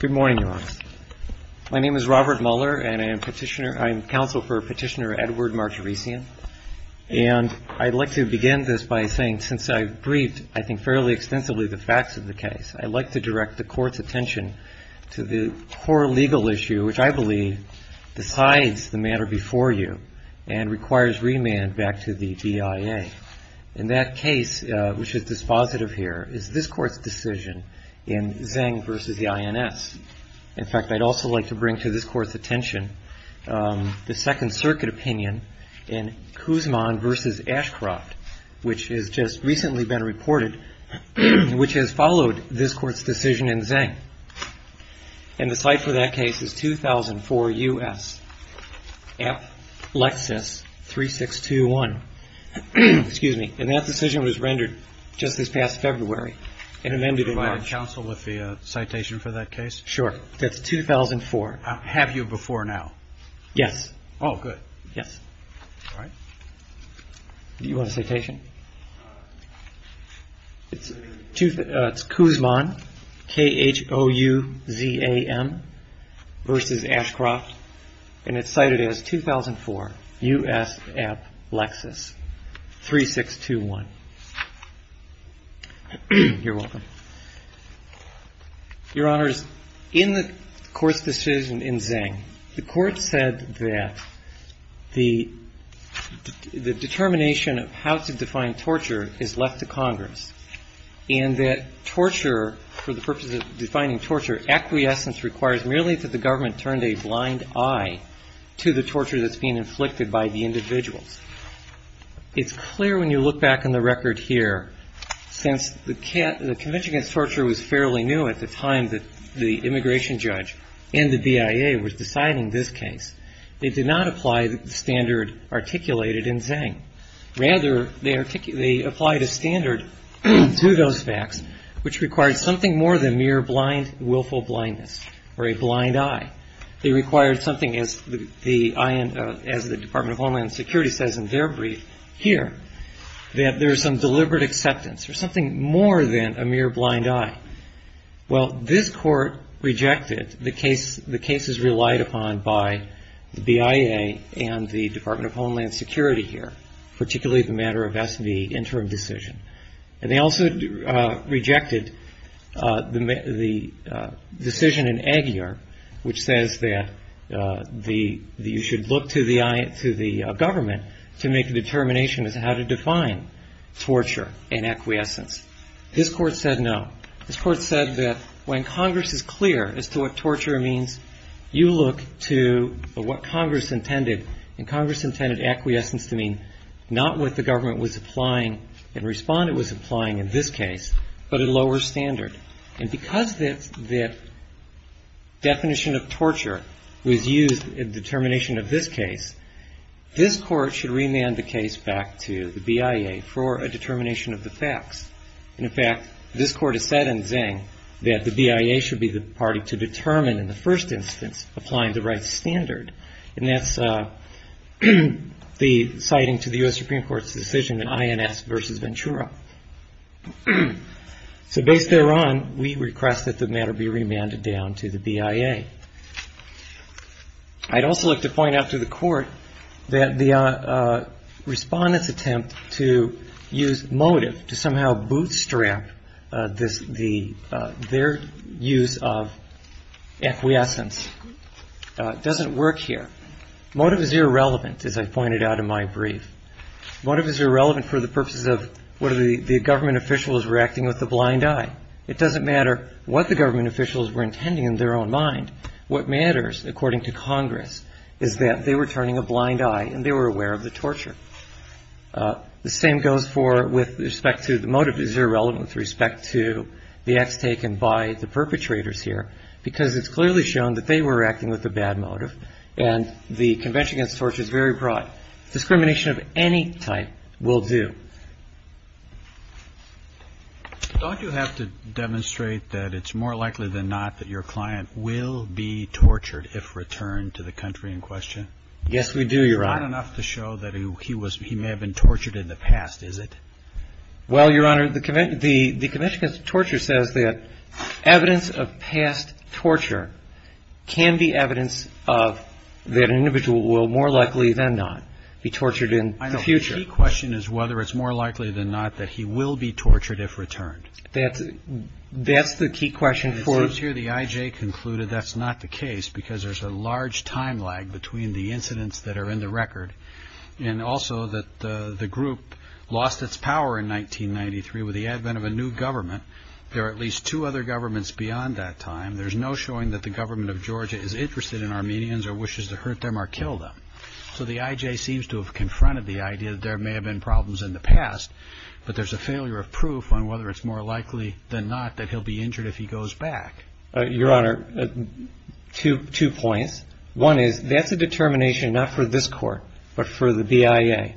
Good morning, Your Honor. My name is Robert Muller, and I'm counsel for Petitioner Edward Martirissian. And I'd like to begin this by saying, since I've briefed, I think, fairly extensively the facts of the case, I'd like to direct the Court's attention to the core legal issue, which I believe decides the matter before you and requires remand back to the Court in Zeng v. INS. In fact, I'd also like to bring to this Court's attention the Second Circuit opinion in Kuzman v. Ashcroft, which has just recently been reported, which has followed this Court's decision in Zeng. And the site for that case is 2004 U.S. F. Lexis 3621. Excuse me. And that decision was rendered just this past February and amended in March. And you provide counsel with the citation for that case? Sure. That's 2004. Have you before now? Yes. Oh, good. Yes. All right. Do you want a citation? It's Kuzman, K-H-O-U-Z-A-M, v. Ashcroft. And it's cited as 2004 U.S. F. Lexis 3621. You're welcome. Your Honors, in the Court's decision in Zeng, the Court said that the determination of how to define torture is left to Congress and that torture, for the purpose of defining torture, acquiescence requires merely that the government turned a blind eye to the torture that's being inflicted by the individuals. It's clear when you look back in the record here, since the Convention Against Torture was fairly new at the time that the immigration judge and the BIA was deciding this case, they did not apply the standard articulated in Zeng. Rather, they applied a standard to those facts which required something more than mere blind, willful blindness or a blind eye. They required something, as the Department of Homeland Security says in their brief here, that there's some deliberate acceptance or something more than a mere blind eye. Well, this Court rejected the cases relied upon by the BIA and the Department of Homeland The decision in Aguiar, which says that you should look to the government to make a determination as to how to define torture and acquiescence. This Court said no. This Court said that when Congress is clear as to what torture means, you look to what Congress intended, and Congress intended acquiescence to mean not what the government was applying and responded was Because the definition of torture was used in the determination of this case, this Court should remand the case back to the BIA for a determination of the facts. In fact, this Court has said in Zeng that the BIA should be the party to determine in the first instance applying the right standard, and that's the citing to the U.S. Supreme Court's decision in INS v. Ventura. So based thereon, we request that the matter be remanded down to the BIA. I'd also like to point out to the Court that the respondent's attempt to use motive to somehow bootstrap their use of acquiescence doesn't work here. Motive is irrelevant, as I pointed out in my brief. Motive is irrelevant for the purposes of what the government officials were acting with a blind eye. It doesn't matter what the government officials were intending in their own mind. What matters, according to Congress, is that they were turning a blind eye and they were aware of the torture. The same goes for with respect to the motive is irrelevant with respect to the acts taken by the perpetrators here, because it's clearly shown that they were acting with a bad motive, and the Convention Against Torture is very broad. Discrimination of any type will do. Don't you have to demonstrate that it's more likely than not that your client will be tortured if returned to the country in question? Yes, we do, Your Honor. It's not enough to show that he may have been tortured in the past, is it? Well, Your Honor, the Convention Against Torture says that evidence of past torture can be evidence of that an individual will more likely than not be tortured in the future. I know. The key question is whether it's more likely than not that he will be tortured if returned. That's the key question for... It seems here the I.J. concluded that's not the case, because there's a large time lag between the incidents that are in the record, and also that the group lost its power in 1993 with the advent of a new government. There are at least two other governments beyond that time. There's no showing that the government of Georgia is interested in Armenians or wishes to hurt them or kill them. So the I.J. seems to have confronted the idea that there may have been problems in the past, but there's a failure of proof on whether it's more likely than not that he'll be injured if he goes back. Your Honor, two points. One is, that's a determination not for this Court, but for the BIA.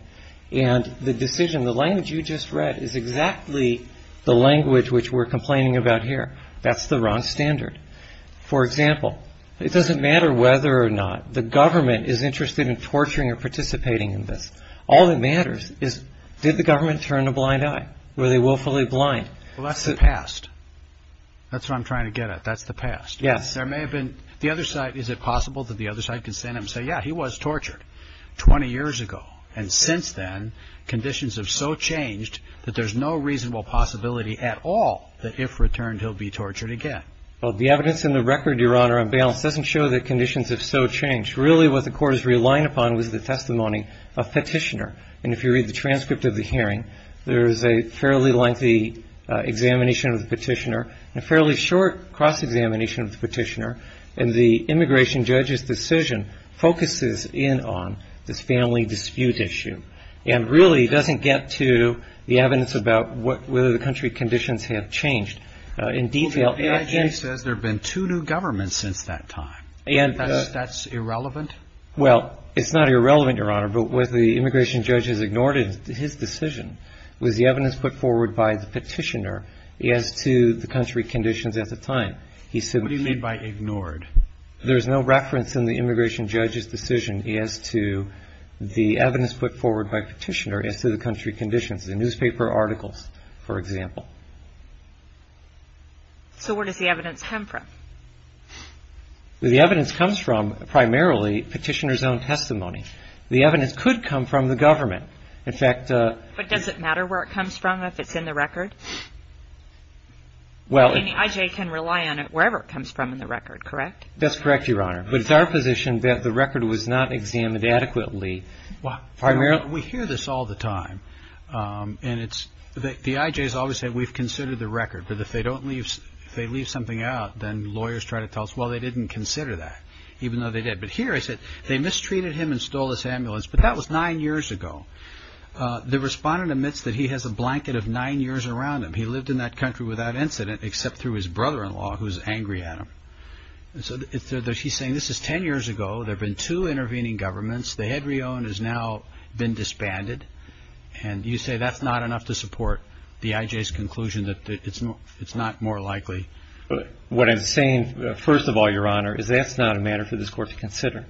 And the decision, the language you just read is exactly the language which we're complaining about here. That's the wrong standard. For example, it doesn't matter whether or not the government is interested in torturing or participating in this. All that matters is, did the government turn a blind eye? Were they willfully blind? Well, that's the past. That's what I'm trying to get at. That's the past. Yes. There may have been. The other side, is it possible that the other side can stand up and say, yeah, he was tortured 20 years ago. And since then, conditions have so changed that there's no reasonable possibility at all that if returned, he'll be tortured again. Well, the evidence in the record, Your Honor, on balance doesn't show that conditions have so changed. Really, what the Court is relying upon was the testimony of Petitioner. And if you read the transcript of the hearing, there is a fairly lengthy examination of the Petitioner and a fairly short cross-examination of the Petitioner. And the immigration judge's decision focuses in on this family dispute issue and really doesn't get to the evidence about whether the country conditions have changed in detail. Well, the agency says there have been two new governments since that time. That's irrelevant? Well, it's not irrelevant, Your Honor. But what the immigration judge has ignored in his decision was the evidence put forward by the Petitioner as to the country conditions at the time. What do you mean by ignored? There's no reference in the immigration judge's decision as to the evidence put forward by Petitioner as to the country conditions, the newspaper articles, for example. So where does the evidence come from? The evidence comes from, primarily, Petitioner's own testimony. The evidence could come from the government. In fact... But does it matter where it comes from, if it's in the record? Well... I mean, the IJ can rely on it wherever it comes from in the record, correct? That's correct, Your Honor. But it's our position that the record was not examined adequately, primarily... We hear this all the time, and it's... The IJ has always said, we've considered the record, but if they don't leave, if they leave something out, then lawyers try to tell us, well, they didn't consider that, even though they did. But here I said, they mistreated him and stole his ambulance, but that was nine years ago. The respondent admits that he has a blanket of nine years around him. He lived in that country without incident, except through his brother-in-law, who's angry at him. So, he's saying, this is ten years ago, there have been two intervening governments. The head re-owned has now been disbanded. And you say that's not enough to support the IJ's conclusion that it's not more likely... What I'm saying, first of all, Your Honor, is that's not a matter for this Court to consider.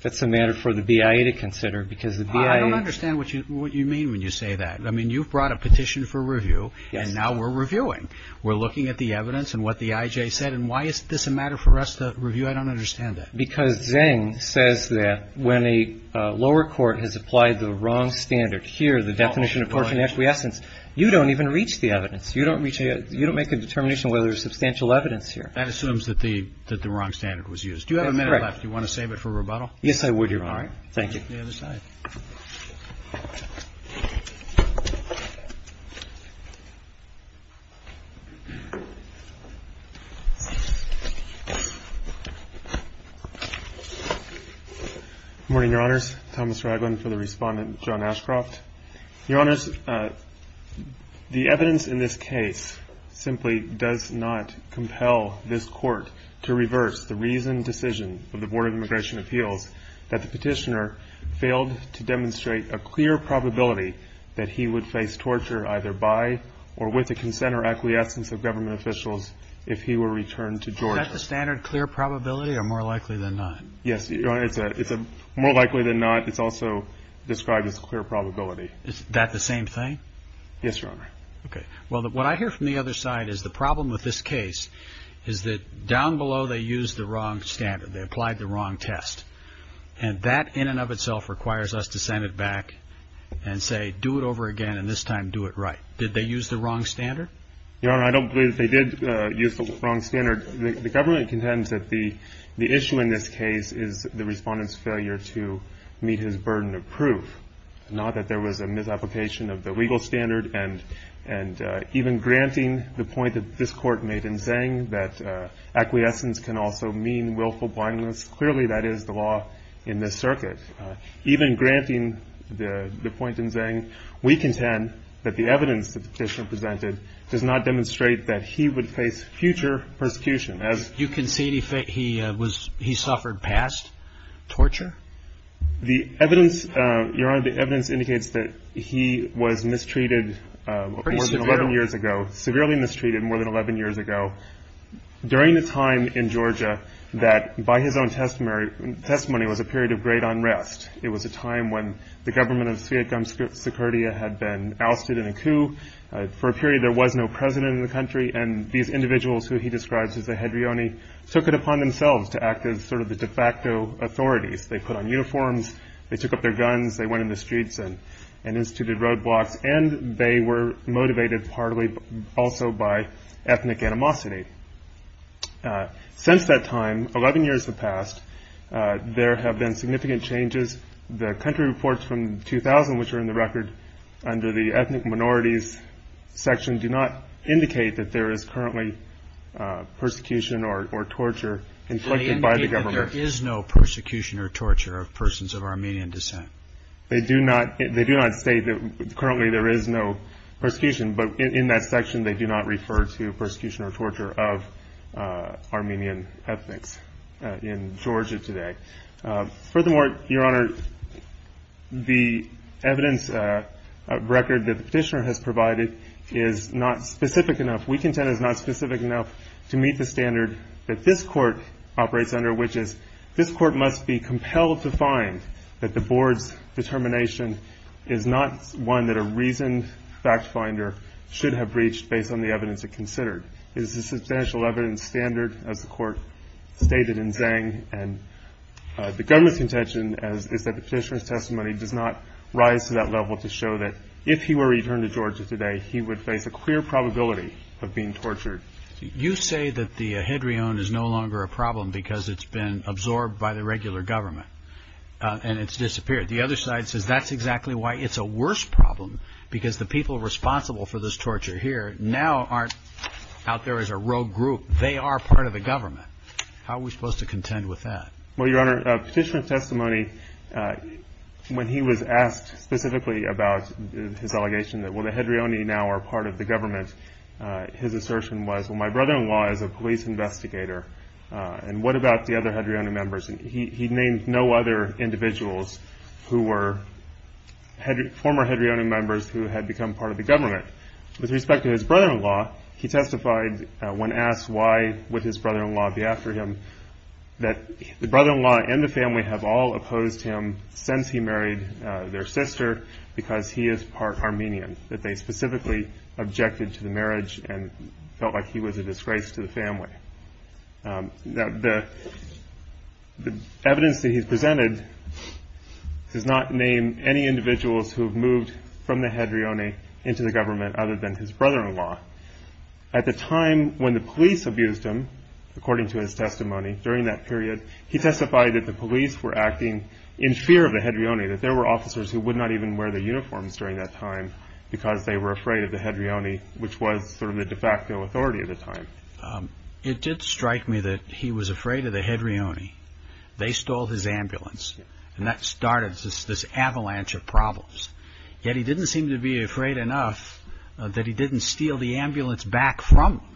That's a matter for the BIA to consider, because the BIA... I don't understand what you mean when you say that. I mean, you've brought a petition for review, and now we're reviewing. We're looking at the evidence and what the IJ said, and why is this a matter for us to review? I don't understand that. Because Zeng says that when a lower court has applied the wrong standard here, the definition of tort and acquiescence, you don't even reach the evidence. You don't reach it. You don't make a determination whether there's substantial evidence here. That assumes that the wrong standard was used. Do you have a minute left? Do you want to save it for rebuttal? Yes, I would, Your Honor. All right. Thank you. Thank you. I'll take the other side. Good morning, Your Honors. Thomas Ragland for the Respondent, John Ashcroft. Your Honors, the evidence in this case simply does not compel this Court to reverse the reasoned decision of the Board of Immigration Appeals that the petitioner failed to demonstrate a clear probability that he would face torture either by or with the consent or acquiescence of government officials if he were returned to Georgia. Is that the standard, clear probability, or more likely than not? Yes, Your Honor, it's a more likely than not. It's also described as clear probability. Is that the same thing? Yes, Your Honor. Okay. Well, what I hear from the other side is the problem with this case is that down below they used the wrong standard, they applied the wrong test, and that in and of itself requires us to send it back and say, do it over again and this time do it right. Did they use the wrong standard? Your Honor, I don't believe they did use the wrong standard. The government contends that the issue in this case is the Respondent's failure to meet his burden of proof, not that there was a misapplication of the legal standard and even granting the point that this Court made in Zhang that acquiescence can also mean willful blindness. Clearly that is the law in this circuit. Even granting the point in Zhang, we contend that the evidence that the Petitioner presented does not demonstrate that he would face future persecution. You concede he suffered past torture? The evidence, Your Honor, the evidence indicates that he was mistreated more than 11 years ago, severely mistreated more than 11 years ago, during a time in Georgia that by his own testimony was a period of great unrest. It was a time when the government of Sviatom Sikurdia had been ousted in a coup. For a period there was no president in the country and these individuals who he describes as the hedrioni took it upon themselves to act as sort of the de facto authorities. They put on uniforms, they took up their guns, they went in the streets and instituted roadblocks, and they were motivated partly also by ethnic animosity. Since that time, 11 years have passed, there have been significant changes. The country reports from 2000, which are in the record under the ethnic minorities section, do not indicate that there is currently persecution or torture inflicted by the government. There is no persecution or torture of persons of Armenian descent? They do not state that currently there is no persecution, but in that section they do not refer to persecution or torture of Armenian ethnics in Georgia today. Furthermore, Your Honor, the evidence record that the petitioner has provided is not specific enough, we contend is not specific enough to meet the standard that this court operates under, which is this court must be compelled to find that the board's determination is not one that a reasoned fact finder should have breached based on the evidence it considered. It is a substantial evidence standard, as the court stated in Zhang, and the government's contention is that the petitioner's testimony does not rise to that level to show that if he were returned to Georgia today, he would face a clear probability of being tortured. You say that the hedrione is no longer a problem because it's been absorbed by the regular government and it's disappeared. The other side says that's exactly why it's a worse problem, because the people responsible for this torture here now aren't out there as a rogue group, they are part of the government. How are we supposed to contend with that? Well, Your Honor, the petitioner's testimony, when he was asked specifically about his allegation that the hedrione now are part of the government, his assertion was, well, my brother-in-law is a police investigator, and what about the other hedrione members? He named no other individuals who were former hedrione members who had become part of the government. With respect to his brother-in-law, he testified when asked why would his brother-in-law be after him, that the brother-in-law and the family have all opposed him since he married their sister because he is part Armenian, that they specifically objected to the marriage and felt like he was a disgrace to the family. The evidence that he's presented does not name any individuals who have moved from the hedrione into the government other than his brother-in-law. At the time when the police abused him, according to his testimony, during that period, he testified that the police were acting in fear of the hedrione, that there were officers who would not even wear their uniforms during that time because they were afraid of the hedrione, which was sort of the de facto authority at the time. It did strike me that he was afraid of the hedrione. They stole his ambulance, and that started this avalanche of problems. Yet he didn't seem to be afraid enough that he didn't steal the ambulance back from them.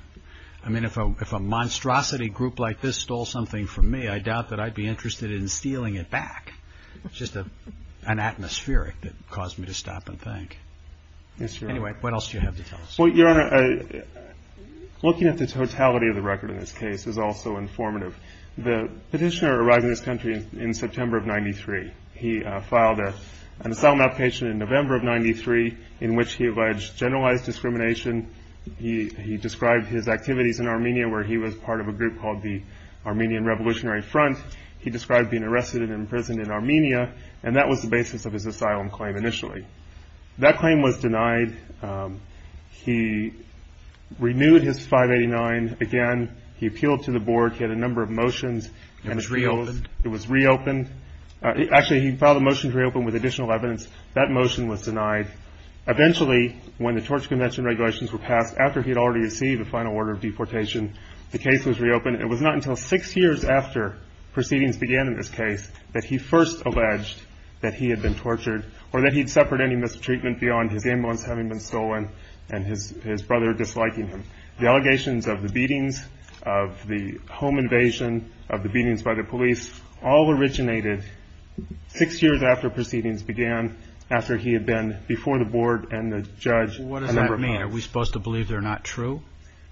I mean, if a monstrosity group like this stole something from me, I doubt that I'd be interested in stealing it back. It's just an atmospheric that caused me to stop and think. Yes, Your Honor. Anyway, what else do you have to tell us? Well, Your Honor, looking at the totality of the record in this case is also informative. The petitioner arrived in this country in September of 93. He filed an asylum application in November of 93 in which he alleged generalized discrimination. He described his activities in Armenia where he was part of a group called the Armenian Revolutionary Front. He described being arrested and imprisoned in Armenia, and that was the basis of his asylum claim initially. That claim was denied. He renewed his 589 again. He appealed to the board. He had a number of motions. And it was reopened? It was reopened. Actually, he filed a motion to reopen with additional evidence. That motion was denied. Eventually, when the torture convention regulations were passed, after he had already received a final order of deportation, the case was reopened. It was not until six years after proceedings began in this case that he first alleged that he had been tortured or that he'd suffered any mistreatment beyond his ambulance having been stolen and his brother disliking him. The allegations of the beatings, of the home invasion, of the beatings by the police all for the board and the judge. What does that mean? Are we supposed to believe they're not true?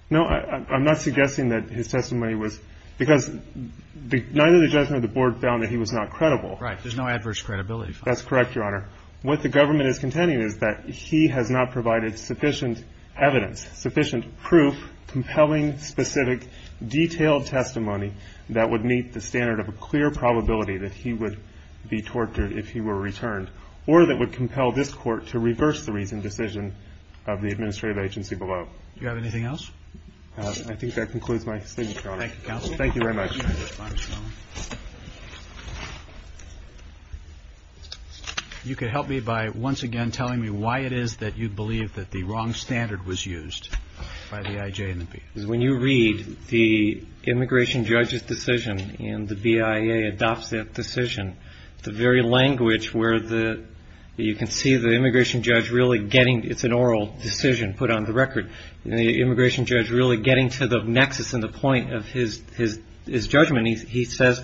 No. I'm not suggesting that his testimony was, because neither the judge nor the board found that he was not credible. Right. There's no adverse credibility. That's correct, Your Honor. What the government is contending is that he has not provided sufficient evidence, sufficient proof, compelling, specific, detailed testimony that would meet the standard of a clear probability that he would be tortured if he were returned or that would compel this court to reverse the reasoned decision of the administrative agency below. Do you have anything else? I think that concludes my statement, Your Honor. Thank you, counsel. Thank you very much. You could help me by once again telling me why it is that you believe that the wrong standard was used by the IJ and the BIA. Because when you read the immigration judge's decision and the BIA adopts that decision, the very language where you can see the immigration judge really getting, it's an oral decision put on the record, the immigration judge really getting to the nexus and the point of his judgment, he says,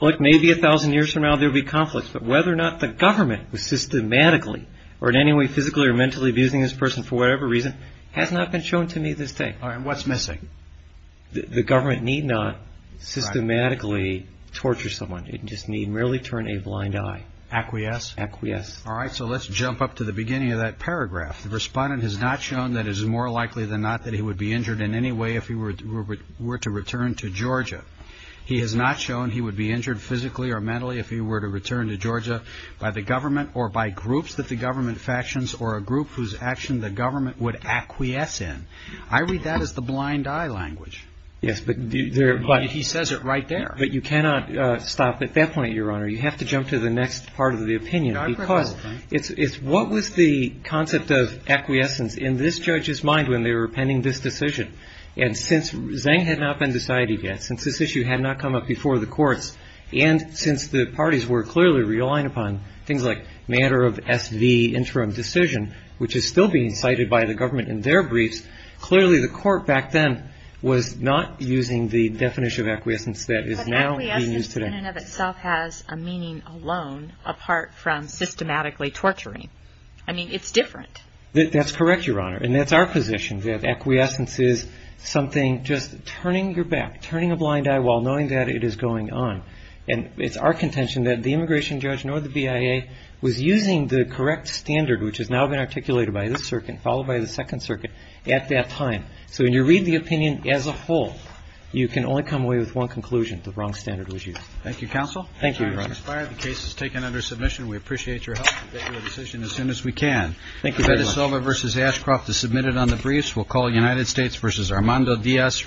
look, maybe 1,000 years from now there will be conflicts, but whether or not the government was systematically or in any way physically or mentally abusing this person for whatever reason has not been shown to me to this day. And what's missing? The government need not systematically torture someone, it just need merely turn a blind eye. Acquiesce? Acquiesce. All right. So let's jump up to the beginning of that paragraph. The respondent has not shown that it is more likely than not that he would be injured in any way if he were to return to Georgia. He has not shown he would be injured physically or mentally if he were to return to Georgia by the government or by groups that the government factions or a group whose action the government would acquiesce in. I read that as the blind eye language. Yes, but he says it right there. But you cannot stop at that point, Your Honor. You have to jump to the next part of the opinion because it's what was the concept of acquiescence in this judge's mind when they were pending this decision? And since Zeng had not been decided yet, since this issue had not come up before the courts, and since the parties were clearly relying upon things like matter of S.V. interim decision, which is still being cited by the government in their briefs, clearly the court back then was not using the definition of acquiescence that is now being used today. But acquiescence in and of itself has a meaning alone apart from systematically torturing. I mean, it's different. That's correct, Your Honor. And that's our position, that acquiescence is something just turning your back, turning a blind eye while knowing that it is going on. And it's our contention that the immigration judge, nor the BIA, was using the correct standard, which has now been articulated by this circuit, followed by the Second Circuit at that time. So when you read the opinion as a whole, you can only come away with one conclusion. The wrong standard was used. Thank you, counsel. Thank you, Your Honor. The case is taken under submission. We appreciate your help. We'll get you a decision as soon as we can. Thank you very much. Beto Silva v. Ashcroft is submitted on the briefs. We'll call United States v. Armando Diaz Rivera.